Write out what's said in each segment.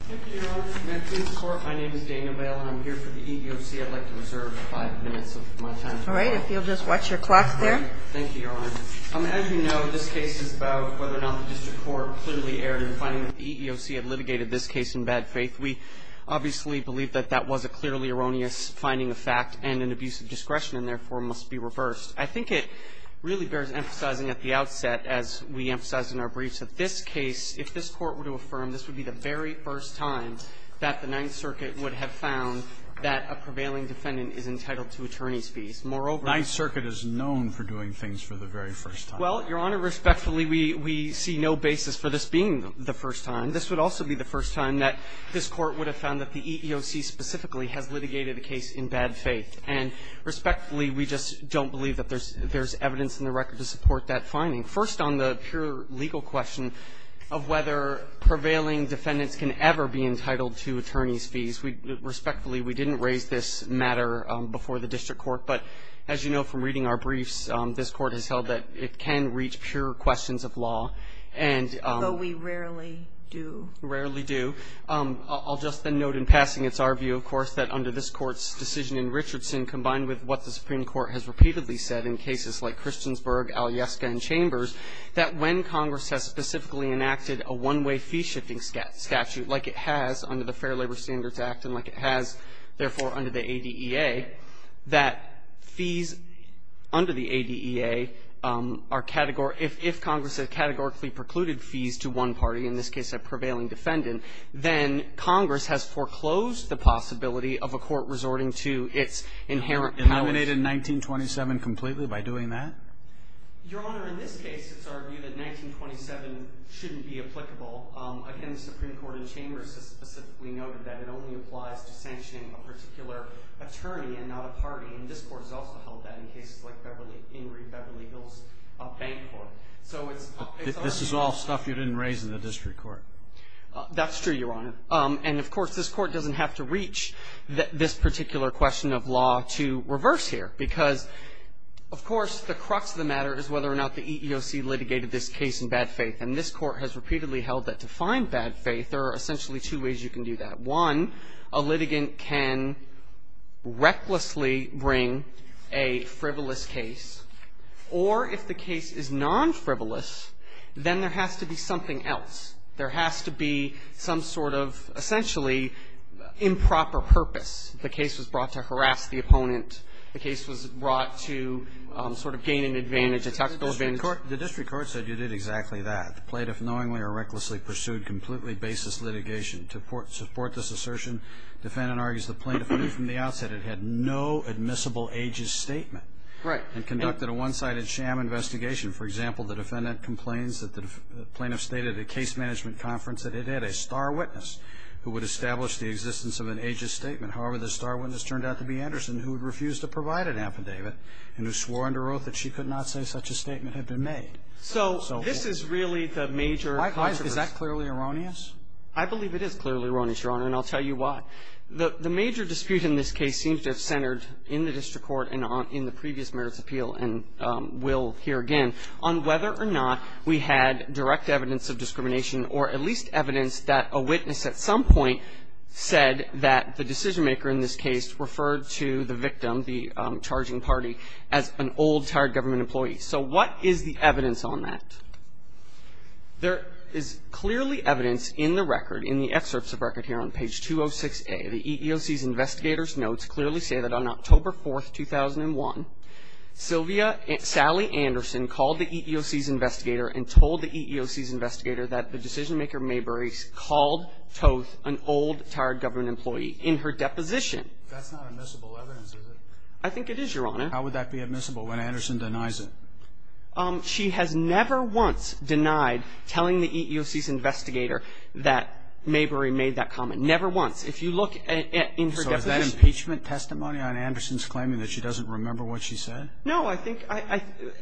Thank you, Your Honor. May it please the Court, my name is Daniel Bale and I'm here for the EEOC. I'd like to reserve five minutes of my time. All right, if you'll just watch your clock there. Thank you, Your Honor. As you know, this case is about whether or not the District Court clearly erred in finding that the EEOC had litigated this case in bad faith. We obviously believe that that was a clearly erroneous finding of fact and an abuse of discretion and therefore must be reversed. I think it really bears emphasizing at the outset, as we emphasized in our briefs, that this case, if this Court were to affirm, this would be the very first time that the Ninth Circuit would have found that a prevailing defendant is entitled to attorney's fees. Moreover — The Ninth Circuit is known for doing things for the very first time. Well, Your Honor, respectfully, we see no basis for this being the first time. This would also be the first time that this Court would have found that the EEOC specifically has litigated a case in bad faith. And respectfully, we just don't believe that there's evidence in the record to support that finding. First, on the pure legal question of whether prevailing defendants can ever be entitled to attorney's fees. Respectfully, we didn't raise this matter before the District Court. But as you know from reading our briefs, this Court has held that it can reach pure questions of law. And — Although we rarely do. Rarely do. I'll just then note in passing, it's our view, of course, that under this Court's decision in Richardson, combined with what the Supreme Court has repeatedly said in cases like Christiansburg, Alyeska, and Chambers, that when Congress has specifically enacted a one-way fee-shifting statute like it has under the Fair Labor Standards Act and like it has, therefore, under the ADEA, that fees under the ADEA are categorical. If Congress has categorically precluded fees to one party, in this case a prevailing defendant, then Congress has foreclosed the possibility of a court resorting to its inherent powers. Eliminated 1927 completely by doing that? Your Honor, in this case, it's our view that 1927 shouldn't be applicable. Again, the Supreme Court in Chambers has specifically noted that it only applies to sanctioning a particular attorney and not a party. And this Court has also held that in cases like Beverly — Ingrid Beverly Hills Bank Court. This is all stuff you didn't raise in the district court. That's true, Your Honor. And, of course, this Court doesn't have to reach this particular question of law to reverse here because, of course, the crux of the matter is whether or not the EEOC litigated this case in bad faith. And this Court has repeatedly held that to find bad faith, there are essentially two ways you can do that. One, a litigant can recklessly bring a frivolous case, or if the case is non-frivolous then there has to be something else. There has to be some sort of essentially improper purpose. The case was brought to harass the opponent. The case was brought to sort of gain an advantage, a tactical advantage. The district court said you did exactly that. The plaintiff knowingly or recklessly pursued completely baseless litigation. To support this assertion, defendant argues the plaintiff knew from the outset it had no admissible ages statement. Right. And conducted a one-sided sham investigation. For example, the defendant complains that the plaintiff stated at a case management conference that it had a star witness who would establish the existence of an ages statement. However, the star witness turned out to be Anderson who had refused to provide an affidavit and who swore under oath that she could not say such a statement had been made. So this is really the major controversy. Is that clearly erroneous? I believe it is clearly erroneous, Your Honor, and I'll tell you why. The major dispute in this case seems to have centered in the district court and in the plaintiff on whether or not we had direct evidence of discrimination or at least evidence that a witness at some point said that the decision-maker in this case referred to the victim, the charging party, as an old, tired government employee. So what is the evidence on that? There is clearly evidence in the record, in the excerpts of record here on page 206A. The EEOC's investigator's notes clearly say that on October 4th, 2001, Sylvia Anderson called the EEOC's investigator and told the EEOC's investigator that the decision-maker, Mayberry, called Toth an old, tired government employee in her deposition. That's not admissible evidence, is it? I think it is, Your Honor. How would that be admissible when Anderson denies it? She has never once denied telling the EEOC's investigator that Mayberry made that comment. Never once. If you look in her deposition. So is that impeachment testimony on Anderson's claiming that she doesn't remember what she said? No, I think.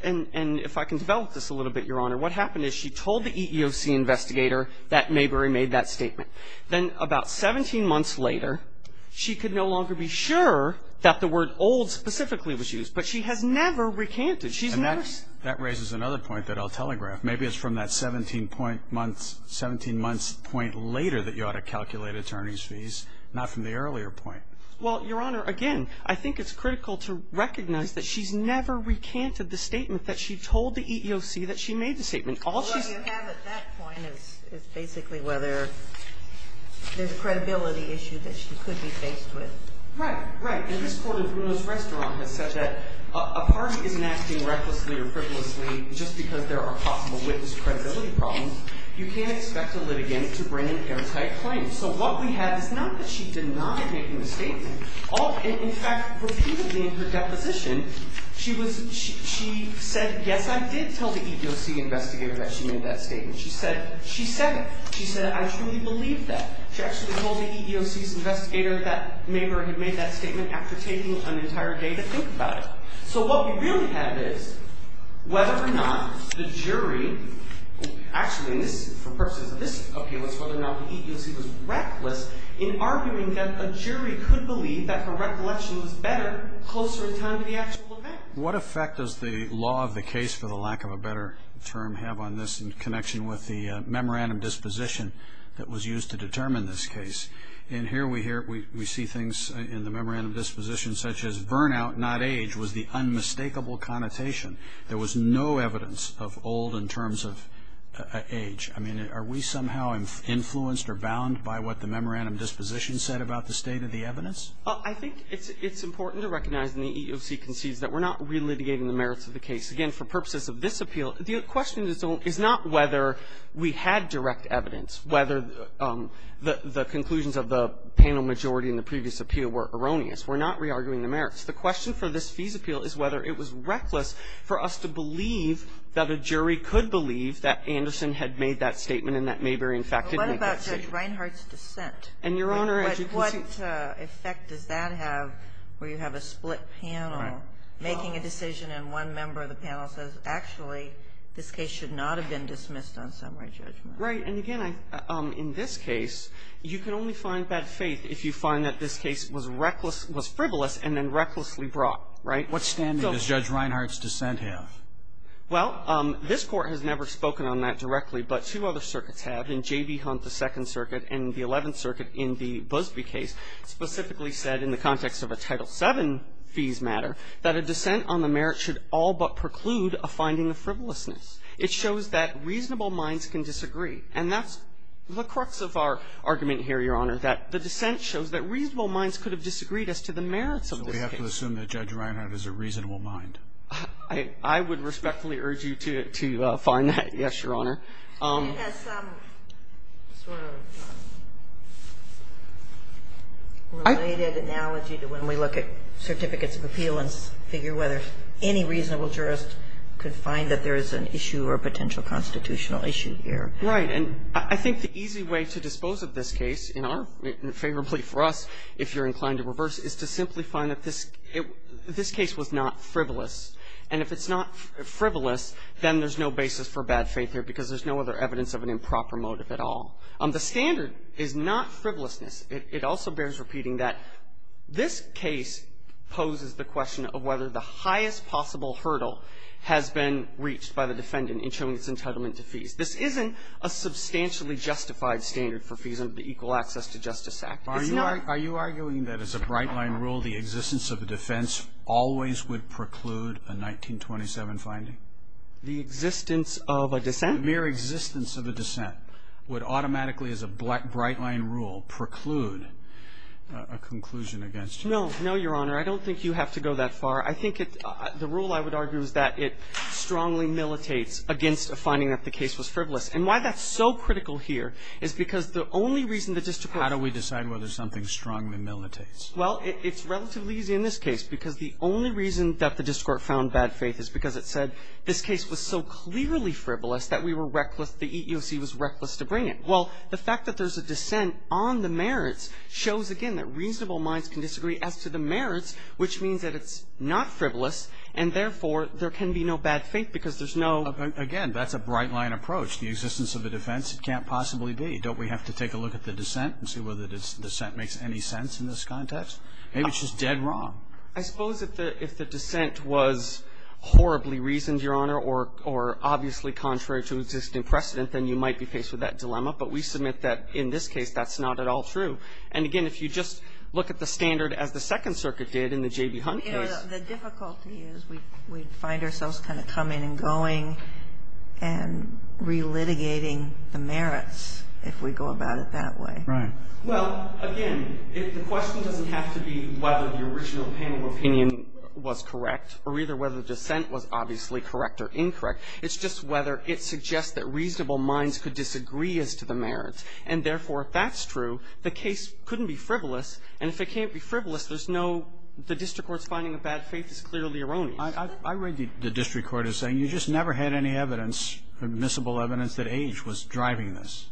And if I can develop this a little bit, Your Honor, what happened is she told the EEOC's investigator that Mayberry made that statement. Then about 17 months later, she could no longer be sure that the word old specifically was used. But she has never recanted. She's never. And that raises another point that I'll telegraph. Maybe it's from that 17 point months, 17 months point later that you ought to calculate attorney's fees, not from the earlier point. Well, Your Honor, again, I think it's critical to recognize that she's never recanted the statement that she told the EEOC that she made the statement. All she's. What you have at that point is basically whether there's a credibility issue that she could be faced with. Right. Right. And this Court in Bruno's Restaurant has said that a party isn't acting recklessly or frivolously just because there are possible witness credibility problems. You can't expect a litigant to bring an anti-claim. So what we have is not that she denied making the statement. In fact, repeatedly in her deposition, she said, yes, I did tell the EEOC investigator that she made that statement. She said it. She said, I truly believe that. She actually told the EEOC's investigator that Mayberry had made that statement after taking an entire day to think about it. So what we really have is whether or not the jury, actually for purposes of this argument, whether or not the EEOC was reckless in arguing that a jury could believe that her recollection was better closer in time to the actual event. What effect does the law of the case, for the lack of a better term, have on this in connection with the memorandum disposition that was used to determine this case? And here we see things in the memorandum disposition such as burnout, not age, was the unmistakable connotation. There was no evidence of old in terms of age. I mean, are we somehow influenced or bound by what the memorandum disposition said about the state of the evidence? I think it's important to recognize, and the EEOC concedes, that we're not re-litigating the merits of the case. Again, for purposes of this appeal, the question is not whether we had direct evidence, whether the conclusions of the panel majority in the previous appeal were erroneous. We're not re-arguing the merits. The question for this fees appeal is whether it was reckless for us to believe that a jury could believe that Anderson had made that statement and that Mayberry, in fact, didn't make that statement. And, Your Honor, as you can see --- But what effect does that have where you have a split panel making a decision and one member of the panel says, actually, this case should not have been dismissed on summary judgment? Right. And, again, in this case, you can only find bad faith if you find that this case was reckless, was frivolous, and then recklessly brought, right? What standing does Judge Reinhart's dissent have? Well, this Court has never spoken on that directly, but two other circuits have. And J.B. Hunt, the Second Circuit, and the Eleventh Circuit in the Busbee case, specifically said in the context of a Title VII fees matter that a dissent on the merits should all but preclude a finding of frivolousness. It shows that reasonable minds can disagree. And that's the crux of our argument here, Your Honor, that the dissent shows that reasonable minds could have disagreed as to the merits of this case. So we have to assume that Judge Reinhart is a reasonable mind? I would respectfully urge you to find that. Yes, Your Honor. It has some sort of related analogy to when we look at certificates of appeal and figure whether any reasonable jurist could find that there is an issue or a potential constitutional issue here. Right. And I think the easy way to dispose of this case in our favorably for us, if you're And if it's not frivolous, then there's no basis for bad faith here because there's no other evidence of an improper motive at all. The standard is not frivolousness. It also bears repeating that this case poses the question of whether the highest possible hurdle has been reached by the defendant in showing its entitlement to fees. This isn't a substantially justified standard for fees under the Equal Access to Justice Act. It's not Are you arguing that as a bright-line rule, the existence of a defense always would preclude a 1927 finding? The existence of a dissent? The mere existence of a dissent would automatically, as a bright-line rule, preclude a conclusion against you. No, Your Honor. I don't think you have to go that far. I think the rule I would argue is that it strongly militates against a finding that the case was frivolous. And why that's so critical here is because the only reason the district court How do we decide whether something strongly militates? Well, it's relatively easy in this case because the only reason that the district court found bad faith is because it said this case was so clearly frivolous that we were reckless, the EEOC was reckless to bring it. Well, the fact that there's a dissent on the merits shows, again, that reasonable minds can disagree as to the merits, which means that it's not frivolous, and therefore there can be no bad faith because there's no Again, that's a bright-line approach. The existence of a defense can't possibly be. Don't we have to take a look at the dissent and see whether the dissent makes any sense in this context? Maybe it's just dead wrong. I suppose if the dissent was horribly reasoned, Your Honor, or obviously contrary to existing precedent, then you might be faced with that dilemma. But we submit that in this case that's not at all true. And, again, if you just look at the standard as the Second Circuit did in the J.B. Hunt case You know, the difficulty is we find ourselves kind of coming and going and relitigating the merits if we go about it that way. Right. Well, again, the question doesn't have to be whether the original panel opinion was correct or either whether the dissent was obviously correct or incorrect. It's just whether it suggests that reasonable minds could disagree as to the merits. And, therefore, if that's true, the case couldn't be frivolous. And if it can't be frivolous, there's no the district court's finding of bad faith is clearly erroneous. I read the district court as saying you just never had any evidence, admissible evidence, that age was driving this.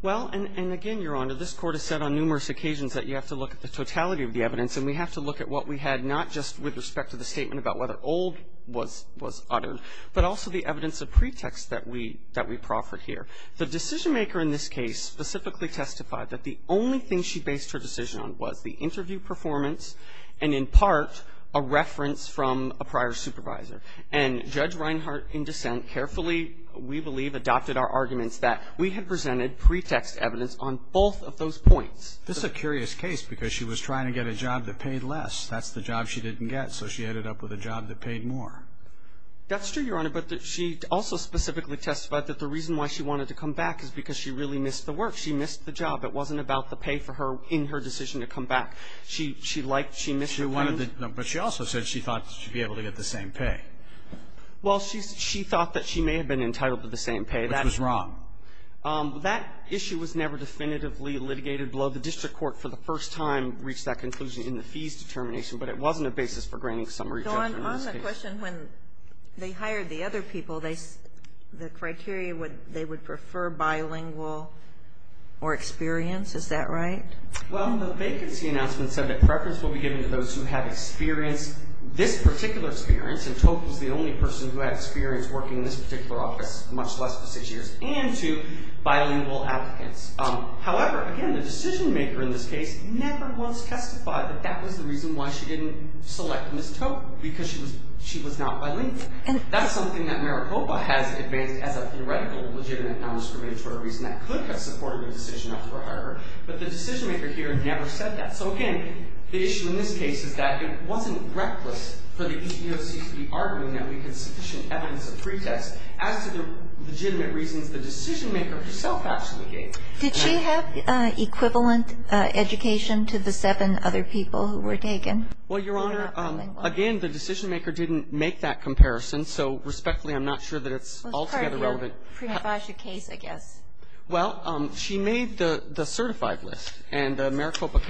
Well, and, again, Your Honor, this Court has said on numerous occasions that you have to look at the totality of the evidence, and we have to look at what we had not just with respect to the statement about whether old was uttered, but also the evidence of pretext that we proffer here. The decisionmaker in this case specifically testified that the only thing she based her decision on was the interview performance and, in part, a reference from a prior supervisor. And Judge Reinhart, in dissent, carefully, we believe, adopted our arguments that we had presented pretext evidence on both of those points. This is a curious case because she was trying to get a job that paid less. That's the job she didn't get, so she ended up with a job that paid more. That's true, Your Honor, but she also specifically testified that the reason why she wanted to come back is because she really missed the work. She missed the job. It wasn't about the pay for her in her decision to come back. She liked she missed the pay. But she also said she thought she'd be able to get the same pay. Well, she thought that she may have been entitled to the same pay. Which was wrong. That issue was never definitively litigated below. The district court, for the first time, reached that conclusion in the fees determination, but it wasn't a basis for granting summary judgment in this case. Don, on the question when they hired the other people, the criteria, they would prefer bilingual or experience. Is that right? Well, the vacancy announcement said that preference will be given to those who have experience. This particular experience, and Tocque was the only person who had experience working in this particular office, much less for six years, and to bilingual applicants. However, again, the decision maker in this case never once testified that that was the reason why she didn't select Ms. Tocque. Because she was not bilingual. And that's something that Maricopa has advanced as a theoretical legitimate non-discriminatory reason that could have supported the decision of her hire. But the decision maker here never said that. So again, the issue in this case is that it wasn't reckless for the EEOC to be arguing that we had sufficient evidence of pretest as to the legitimate reasons the decision maker herself actually gave. Did she have equivalent education to the seven other people who were taken? Well, Your Honor, again, the decision maker didn't make that comparison. So respectfully, I'm not sure that it's altogether relevant. Well, it's part of your pre-advisory case, I guess. Well, she made the certified list. And the Maricopa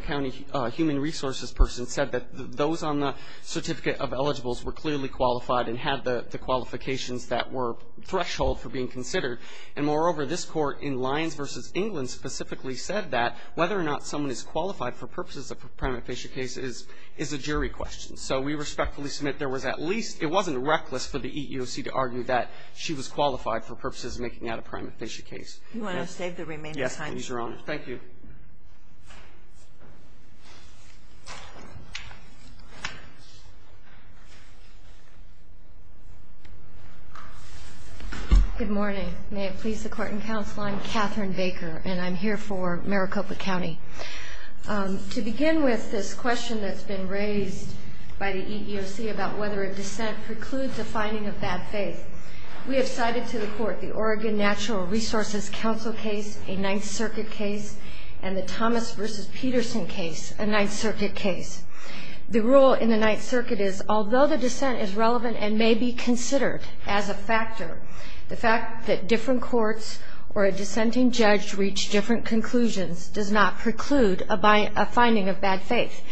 County human resources person said that those on the certificate of eligibility were clearly qualified and had the qualifications that were threshold for being considered. And moreover, this Court in Lyons v. England specifically said that whether or not someone is qualified for purposes of a prima facie case is a jury question. So we respectfully submit there was at least – it wasn't reckless for the EEOC to argue that she was qualified for purposes of making that a prima facie case. Do you want to save the remaining time? Yes, please, Your Honor. Thank you. Good morning. May it please the Court and counsel, I'm Catherine Baker, and I'm here for Maricopa County. To begin with, this question that's been raised by the EEOC about whether a dissent precludes a finding of bad faith, we have cited to the court the Oregon Natural Resources Council case, a Ninth Circuit case, and the Thomas v. Peterson case, a Ninth Circuit case. The rule in the Ninth Circuit is, although the dissent is relevant and may be considered as a factor, the fact that different courts or a dissenting judge reach different conclusions does not preclude a finding of bad faith.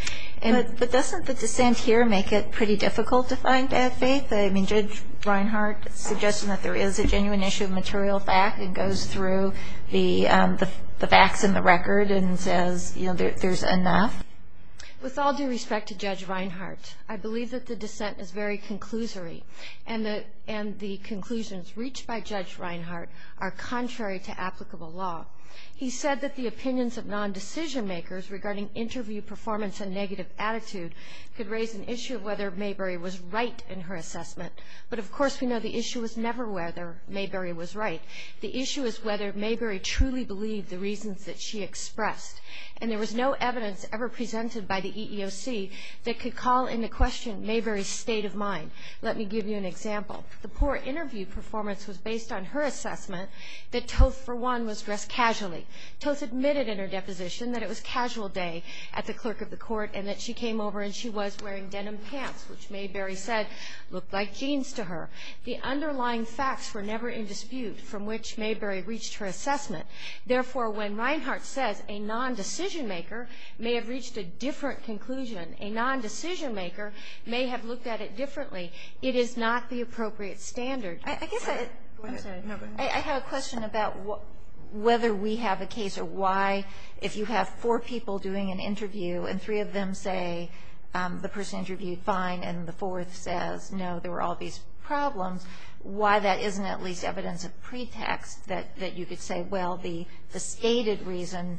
But doesn't the dissent here make it pretty difficult to find bad faith? I mean, Judge Reinhart is suggesting that there is a genuine issue of material fact and goes through the facts and the record and says, you know, there's enough. With all due respect to Judge Reinhart, I believe that the dissent is very conclusory and the conclusions reached by Judge Reinhart are contrary to applicable law. He said that the opinions of non-decision makers regarding interview performance and negative attitude could raise an issue of whether Mayberry was right in her assessment. But, of course, we know the issue was never whether Mayberry was right. The issue is whether Mayberry truly believed the reasons that she expressed. And there was no evidence ever presented by the EEOC that could call into question Mayberry's state of mind. Let me give you an example. The poor interview performance was based on her assessment that Toth, for one, was dressed casually. Toth admitted in her deposition that it was casual day at the clerk of the court and that she came over and she was wearing denim pants, which Mayberry said looked like jeans to her. The underlying facts were never in dispute from which Mayberry reached her assessment. Therefore, when Reinhart says a non-decision maker may have reached a different conclusion, a non-decision maker may have looked at it differently, it is not the appropriate standard. I guess I had a question about whether we have a case or why, if you have four people doing an interview and three of them say the person interviewed fine and the fourth says, no, there were all these problems, why that isn't at least evidence of pretext that you could say, well, the stated reason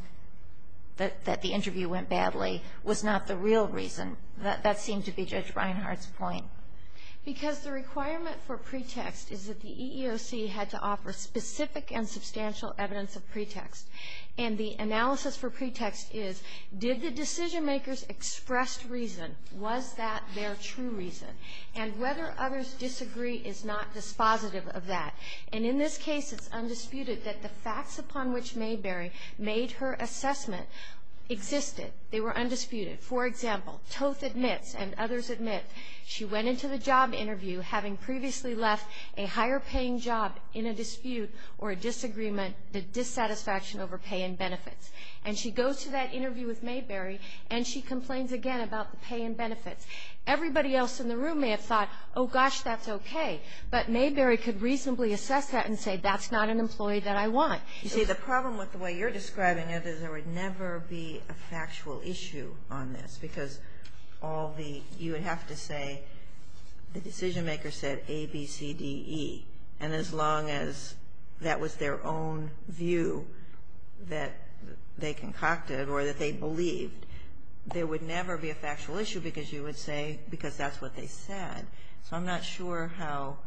that the interview went badly was not the real reason. That seemed to be Judge Reinhart's point. Because the requirement for pretext is that the EEOC had to offer specific and substantial evidence of pretext. And the analysis for pretext is, did the decision makers express reason? Was that their true reason? And whether others disagree is not dispositive of that. And in this case, it's undisputed that the facts upon which Mayberry made her assessment existed. They were undisputed. For example, Toth admits and others admit she went into the job interview having previously left a higher paying job in a dispute or a disagreement, a dissatisfaction over pay and benefits. And she goes to that interview with Mayberry and she complains again about the pay and benefits. Everybody else in the room may have thought, oh, gosh, that's okay. But Mayberry could reasonably assess that and say, that's not an employee that I want. You see, the problem with the way you're describing it is there would never be a factual issue on this. Because all the you would have to say the decision makers said A, B, C, D, E. And as long as that was their own view that they concocted or that they believed, there would never be a factual issue because you would say because that's what they said. So I'm not sure how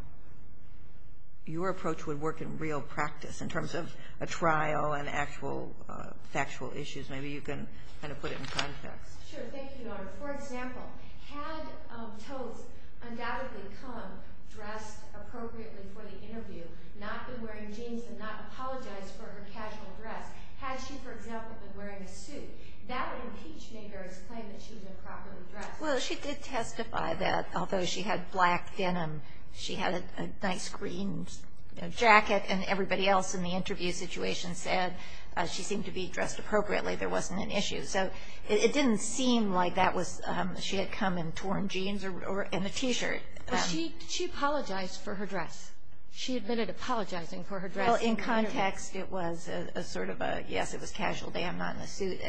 your approach would work in real practice in terms of a trial and actual factual issues. Maybe you can kind of put it in context. Sure. Thank you, Your Honor. For example, had Toth undoubtedly come dressed appropriately for the interview, not been wearing jeans and not apologized for her casual dress, had she, for example, been wearing a suit, that would impeach Mayberry's claim that she was improperly dressed. Well, she did testify that although she had black denim, she had a nice green jacket, and everybody else in the interview situation said she seemed to be dressed appropriately. There wasn't an issue. So it didn't seem like that was she had come in torn jeans or in a T-shirt. Well, she apologized for her dress. She admitted apologizing for her dress. Well, in context, it was a sort of a yes, it was casual day. I'm not in a suit.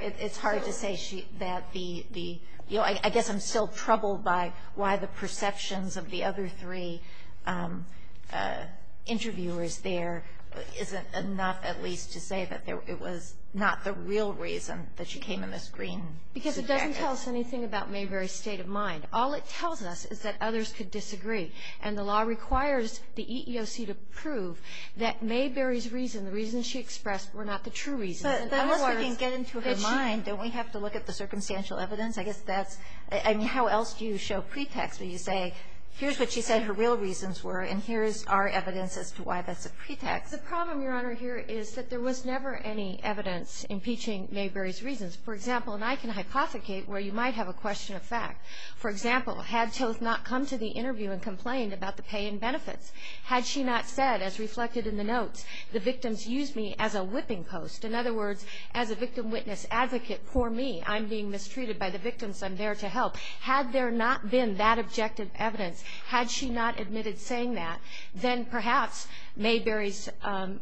It's hard to say that the, you know, I guess I'm still troubled by why the perceptions of the other three interviewers there isn't enough at least to say that it was not the real reason that she came in this green suit jacket. Because it doesn't tell us anything about Mayberry's state of mind. All it tells us is that others could disagree. And the law requires the EEOC to prove that Mayberry's reason, the reasons she expressed, were not the true reasons. But unless we can get into her mind, don't we have to look at the circumstantial evidence? I guess that's, I mean, how else do you show pretext when you say here's what she said her real reasons were, and here's our evidence as to why that's a pretext? The problem, Your Honor, here is that there was never any evidence impeaching Mayberry's reasons. For example, and I can hypothecate where you might have a question of fact. For example, had Toth not come to the interview and complained about the pay and benefits, had she not said, as reflected in the notes, the victims used me as a whipping post. In other words, as a victim witness advocate for me. I'm being mistreated by the victims. I'm there to help. Had there not been that objective evidence, had she not admitted saying that, then perhaps Mayberry's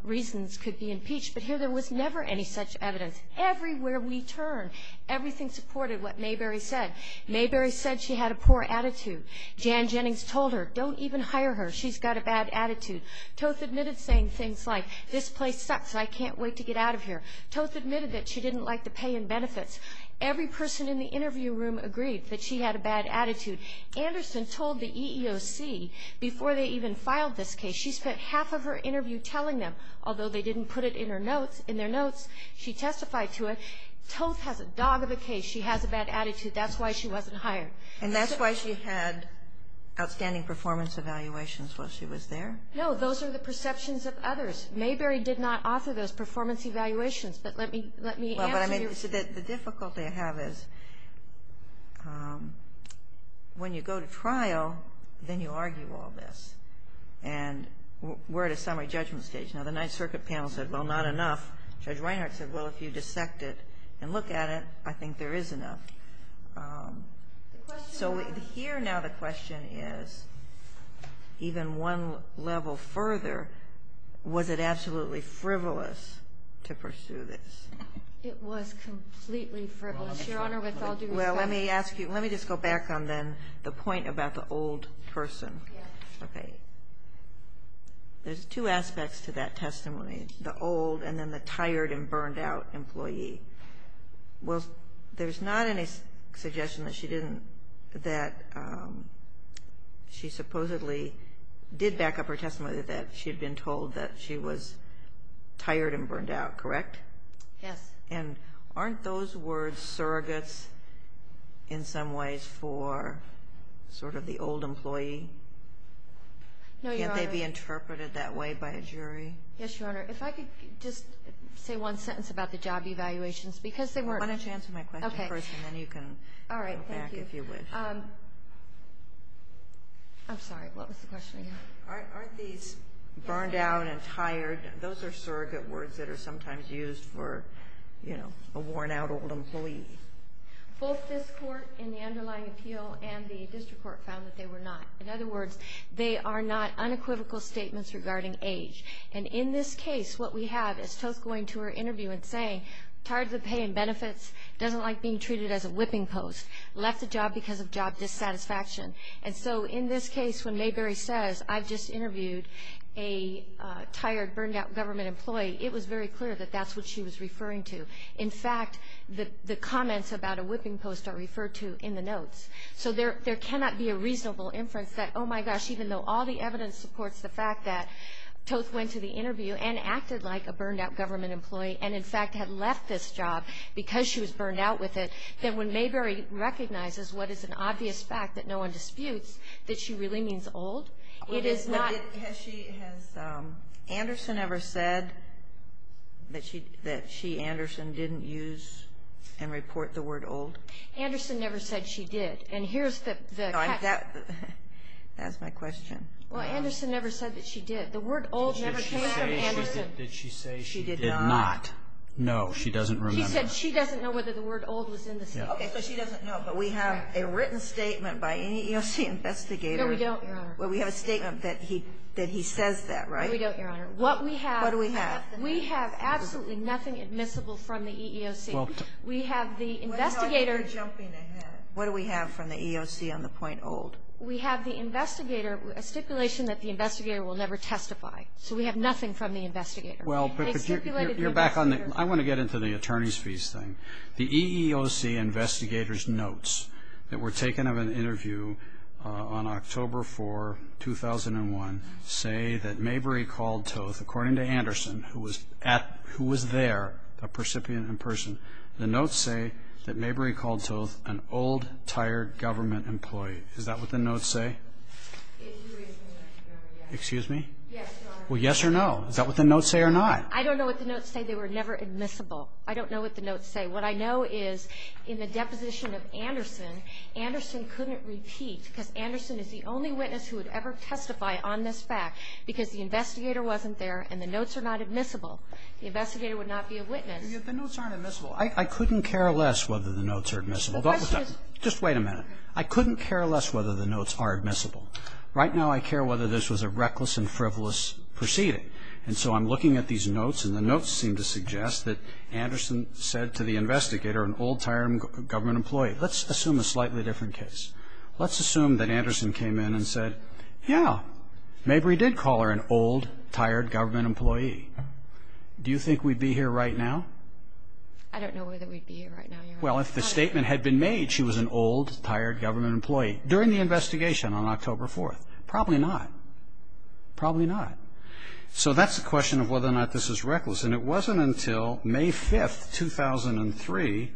reasons could be impeached. But here there was never any such evidence. Everywhere we turn, everything supported what Mayberry said. Mayberry said she had a poor attitude. Jan Jennings told her, don't even hire her. She's got a bad attitude. Toth admitted saying things like, this place sucks and I can't wait to get out of here. Toth admitted that she didn't like the pay and benefits. Every person in the interview room agreed that she had a bad attitude. Anderson told the EEOC before they even filed this case, she spent half of her interview telling them, although they didn't put it in her notes, in their notes. She testified to it. Toth has a dog of a case. She has a bad attitude. That's why she wasn't hired. And that's why she had outstanding performance evaluations while she was there? No, those are the perceptions of others. Mayberry did not offer those performance evaluations. But let me answer your question. The difficulty I have is when you go to trial, then you argue all this. And we're at a summary judgment stage. Now, the Ninth Circuit panel said, well, not enough. Judge Reinhart said, well, if you dissect it and look at it, I think there is enough. So here now the question is, even one level further, was it absolutely frivolous to pursue this? It was completely frivolous, Your Honor, with all due respect. Well, let me ask you, let me just go back on then the point about the old person. Okay. There's two aspects to that testimony, the old and then the tired and burned out employee. Well, there's not any suggestion that she supposedly did back up her testimony that she had been told that she was tired and burned out, correct? Yes. And aren't those words surrogates in some ways for sort of the old employee? No, Your Honor. Can't they be interpreted that way by a jury? Yes, Your Honor. If I could just say one sentence about the job evaluations. Why don't you answer my question first, and then you can go back if you wish. All right. Thank you. I'm sorry. What was the question again? Aren't these burned out and tired? Those are surrogate words that are sometimes used for, you know, a worn-out old employee. Both this Court in the underlying appeal and the district court found that they were not. In other words, they are not unequivocal statements regarding age. And in this case, what we have is Toth going to her interview and saying, tired of the pay and benefits, doesn't like being treated as a whipping post, left the job because of job dissatisfaction. And so in this case, when Mayberry says, I've just interviewed a tired, burned-out government employee, it was very clear that that's what she was referring to. In fact, the comments about a whipping post are referred to in the notes. So there cannot be a reasonable inference that, oh, my gosh, even though all the evidence supports the fact that Toth went to the interview and acted like a burned-out government employee and, in fact, had left this job because she was burned out with it, that when Mayberry recognizes what is an obvious fact that no one disputes, that she really means old. It is not. Has she, has Anderson ever said that she, Anderson, didn't use and report the word old? Anderson never said she did. And here's the question. Well, Anderson never said that she did. The word old never came out of Anderson. Did she say she did not? No, she doesn't remember. She said she doesn't know whether the word old was in the statement. Okay, so she doesn't know. But we have a written statement by an EEOC investigator. No, we don't, Your Honor. Well, we have a statement that he says that, right? No, we don't, Your Honor. What we have. What do we have? We have absolutely nothing admissible from the EEOC. We have the investigator. What do we have from the EEOC on the point old? We have the investigator, a stipulation that the investigator will never testify. So we have nothing from the investigator. Well, but you're back on the, I want to get into the attorney's fees thing. The EEOC investigator's notes that were taken of an interview on October 4, 2001, say that Mayberry called Toth, according to Anderson, who was there, a recipient in person. The notes say that Mayberry called Toth an old, tired government employee. Is that what the notes say? Excuse me? Yes, Your Honor. Well, yes or no? Is that what the notes say or not? I don't know what the notes say. They were never admissible. I don't know what the notes say. What I know is in the deposition of Anderson, Anderson couldn't repeat because Anderson is the only witness who would ever testify on this fact because the investigator wasn't there and the notes are not admissible. The investigator would not be a witness. The notes aren't admissible. I couldn't care less whether the notes are admissible. Just wait a minute. I couldn't care less whether the notes are admissible. Right now I care whether this was a reckless and frivolous proceeding. And so I'm looking at these notes and the notes seem to suggest that Anderson said to the investigator, an old, tired government employee, let's assume a slightly different case. Let's assume that Anderson came in and said, yeah, maybe we did call her an old, tired government employee. Do you think we'd be here right now? I don't know whether we'd be here right now, Your Honor. Well, if the statement had been made she was an old, tired government employee during the investigation on October 4th. Probably not. Probably not. So that's the question of whether or not this is reckless. And it wasn't until May 5th, 2003,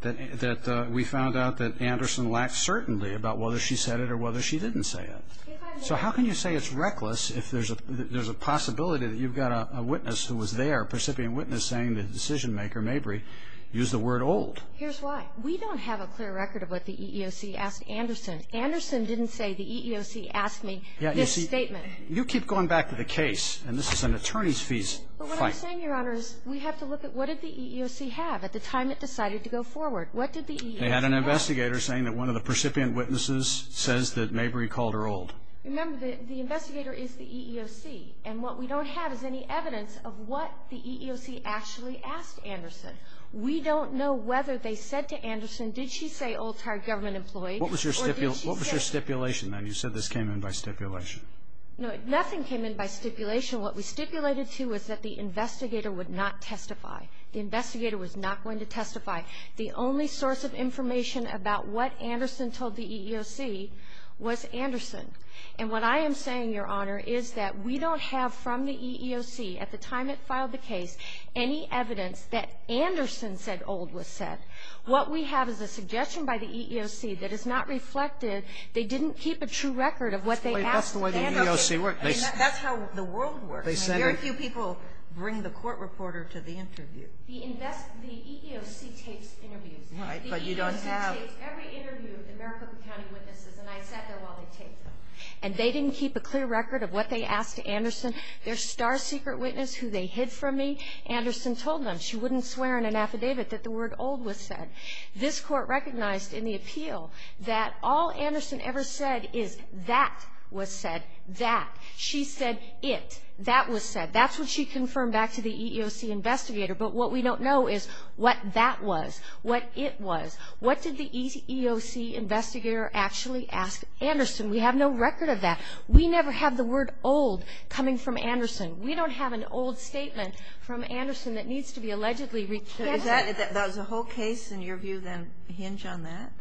that we found out that Anderson lacked certainty about whether she said it or whether she didn't say it. So how can you say it's reckless if there's a possibility that you've got a witness who was there, a precipient witness, saying the decision maker, Mabry, used the word old? Here's why. We don't have a clear record of what the EEOC asked Anderson. Anderson didn't say the EEOC asked me this statement. You keep going back to the case, and this is an attorney's fees fight. But what I'm saying, Your Honor, is we have to look at what did the EEOC have at the time it decided to go forward. What did the EEOC have? They had an investigator saying that one of the precipient witnesses says that Mabry called her old. Remember, the investigator is the EEOC. And what we don't have is any evidence of what the EEOC actually asked Anderson. We don't know whether they said to Anderson, did she say old, tired government employee, or did she say? What was your stipulation then? You said this came in by stipulation. No, nothing came in by stipulation. What we stipulated to was that the investigator would not testify. The investigator was not going to testify. The only source of information about what Anderson told the EEOC was Anderson. And what I am saying, Your Honor, is that we don't have from the EEOC at the time it filed the case any evidence that Anderson said old was said. What we have is a suggestion by the EEOC that is not reflected. They didn't keep a true record of what they asked Anderson. That's the way the EEOC works. That's how the world works. Very few people bring the court reporter to the interview. The EEOC takes interviews. Right, but you don't have to. The EEOC takes every interview with the Maricopa County witnesses, and I sat there while they taped them. And they didn't keep a clear record of what they asked Anderson. Their star secret witness who they hid from me, Anderson told them she wouldn't swear in an affidavit that the word old was said. This Court recognized in the appeal that all Anderson ever said is that was said, that. She said it, that was said. That's what she confirmed back to the EEOC investigator. But what we don't know is what that was, what it was. What did the EEOC investigator actually ask Anderson? We have no record of that. We never have the word old coming from Anderson. We don't have an old statement from Anderson that needs to be allegedly recast. Does the whole case, in your view, then hinge on that?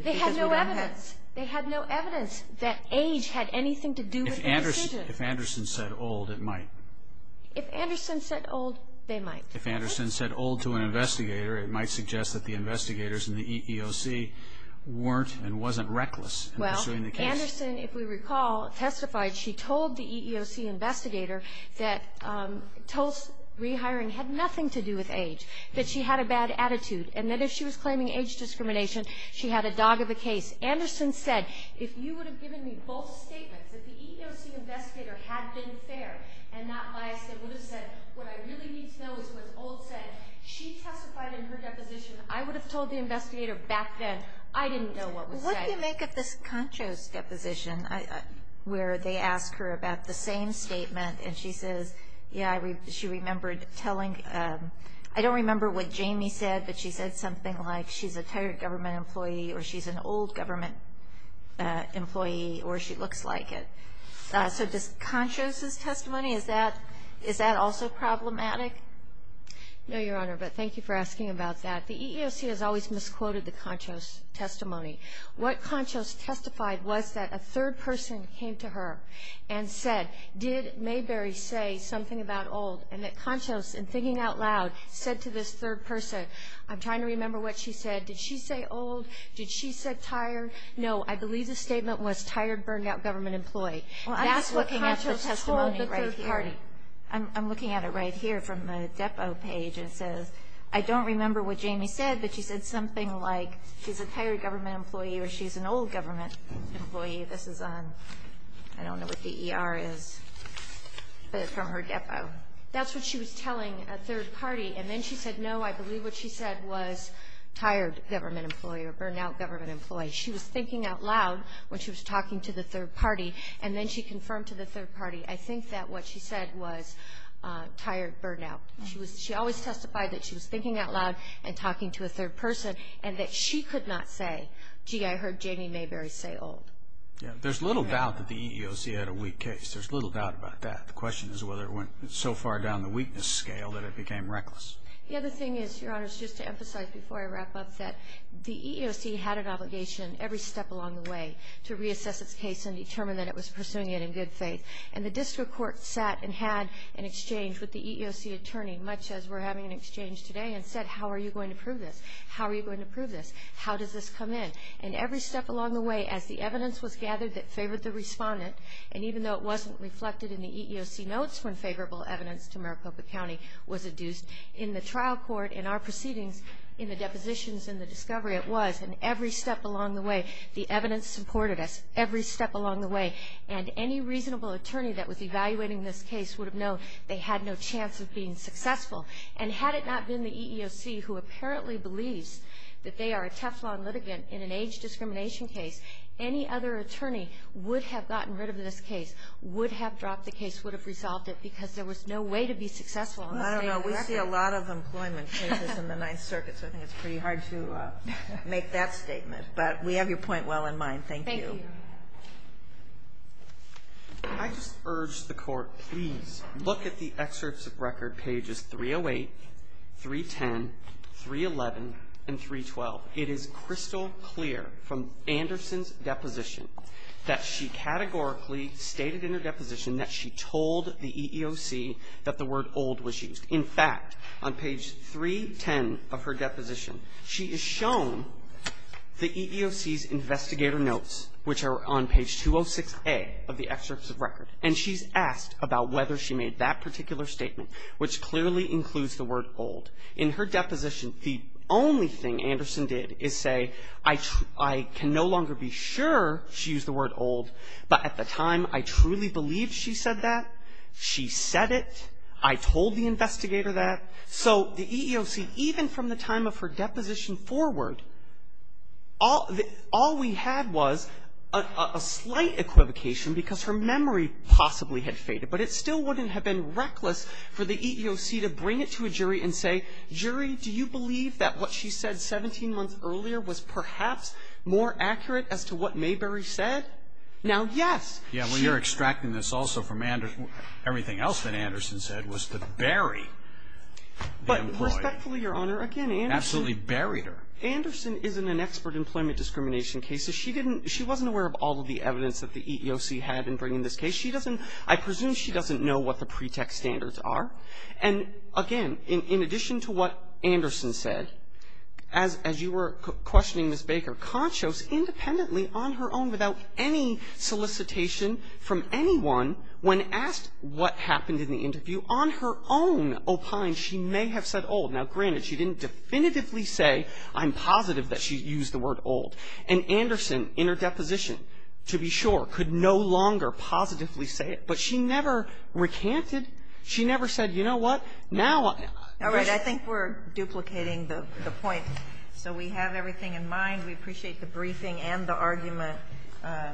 They had no evidence. They had no evidence that age had anything to do with their decision. If Anderson said old, it might. If Anderson said old, they might. If Anderson said old to an investigator, it might suggest that the investigators in the EEOC weren't and wasn't reckless in pursuing the case. Well, Anderson, if we recall, testified. She told the EEOC investigator that Tulse rehiring had nothing to do with age, that she had a bad attitude, and that if she was claiming age discrimination, she had a dog of a case. Anderson said, if you would have given me both statements, if the EEOC investigator had been fair and not biased, and would have said what I really need to know is what old said, she testified in her deposition. I would have told the investigator back then I didn't know what was said. What do you make of this Concho's deposition where they ask her about the same statement, and she says, yeah, she remembered telling – I don't remember what Jamie said, but she said something like she's a tired government employee or she's an old government employee or she looks like it. So does Concho's testimony, is that also problematic? No, Your Honor, but thank you for asking about that. The EEOC has always misquoted the Concho's testimony. What Concho's testified was that a third person came to her and said, did Mayberry say something about old, and that Concho's, in thinking out loud, said to this third person, I'm trying to remember what she said, did she say old? Did she say tired? No. I believe the statement was tired, burned-out government employee. That's what Concho's testimony right here. Well, I'm just looking at the testimony of the third party. I'm looking at it right here from the depot page, and it says, I don't remember what Jamie said, but she said something like she's a tired government employee or she's an old government employee. This is on – I don't know what the ER is, but it's from her depot. That's what she was telling a third party. And then she said, no, I believe what she said was tired government employee or burned-out government employee. She was thinking out loud when she was talking to the third party, and then she confirmed to the third party, I think that what she said was tired, burned-out. She always testified that she was thinking out loud and talking to a third person and that she could not say, gee, I heard Jamie Mayberry say old. There's little doubt that the EEOC had a weak case. There's little doubt about that. The question is whether it went so far down the weakness scale that it became reckless. The other thing is, Your Honors, just to emphasize before I wrap up, that the EEOC had an obligation every step along the way to reassess its case and determine that it was pursuing it in good faith. And the district court sat and had an exchange with the EEOC attorney, much as we're having an exchange today, and said, how are you going to prove this? How are you going to prove this? How does this come in? And every step along the way, as the evidence was gathered that favored the respondent, and even though it wasn't reflected in the EEOC notes when favorable evidence to Maricopa County was adduced, in the trial court, in our proceedings, in the depositions, in the discovery, it was in every step along the way. The evidence supported us every step along the way. And any reasonable attorney that was evaluating this case would have known they had no chance of being successful. And had it not been the EEOC, who apparently believes that they are a Teflon litigant in an age discrimination case, any other attorney would have gotten rid of this case, would have dropped the case, would have resolved it, because there was no way to be successful. I don't know. We see a lot of employment cases in the Ninth Circuit, so I think it's pretty hard to make that statement. But we have your point well in mind. Thank you. Thank you. I just urge the Court, please, look at the excerpts of record, pages 308, 310, 311, and 312. It is crystal clear from Anderson's deposition that she categorically stated in her deposition that she told the EEOC that the word old was used. In fact, on page 310 of her deposition, she is shown the EEOC's investigator notes, which are on page 206A of the excerpts of record. And she's asked about whether she made that particular statement, which clearly includes the word old. In her deposition, the only thing Anderson did is say, I can no longer be sure she used the word old, but at the time, I truly believed she said that. She said it. I told the investigator that. So the EEOC, even from the time of her deposition forward, all we had was a slight equivocation because her memory possibly had faded, but it still wouldn't have been true. She said, jury, do you believe that what she said 17 months earlier was perhaps more accurate as to what Mayberry said? Now, yes. Yeah, well, you're extracting this also from everything else that Anderson said, was to bury the employer. But respectfully, Your Honor, again, Anderson. Absolutely buried her. Anderson isn't an expert in employment discrimination cases. She didn't, she wasn't aware of all of the evidence that the EEOC had in bringing this case. She doesn't, I presume she doesn't know what the pretext standards are. And, again, in addition to what Anderson said, as you were questioning Ms. Baker, Conchos independently, on her own, without any solicitation from anyone, when asked what happened in the interview, on her own opined she may have said old. Now, granted, she didn't definitively say, I'm positive that she used the word old. And Anderson, in her deposition, to be sure, could no longer positively say it. But she never recanted. She never said, you know what, now. All right. I think we're duplicating the point. So we have everything in mind. We appreciate the briefing and the argument.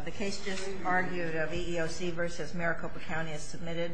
The case just argued of EEOC versus Maricopa County is submitted.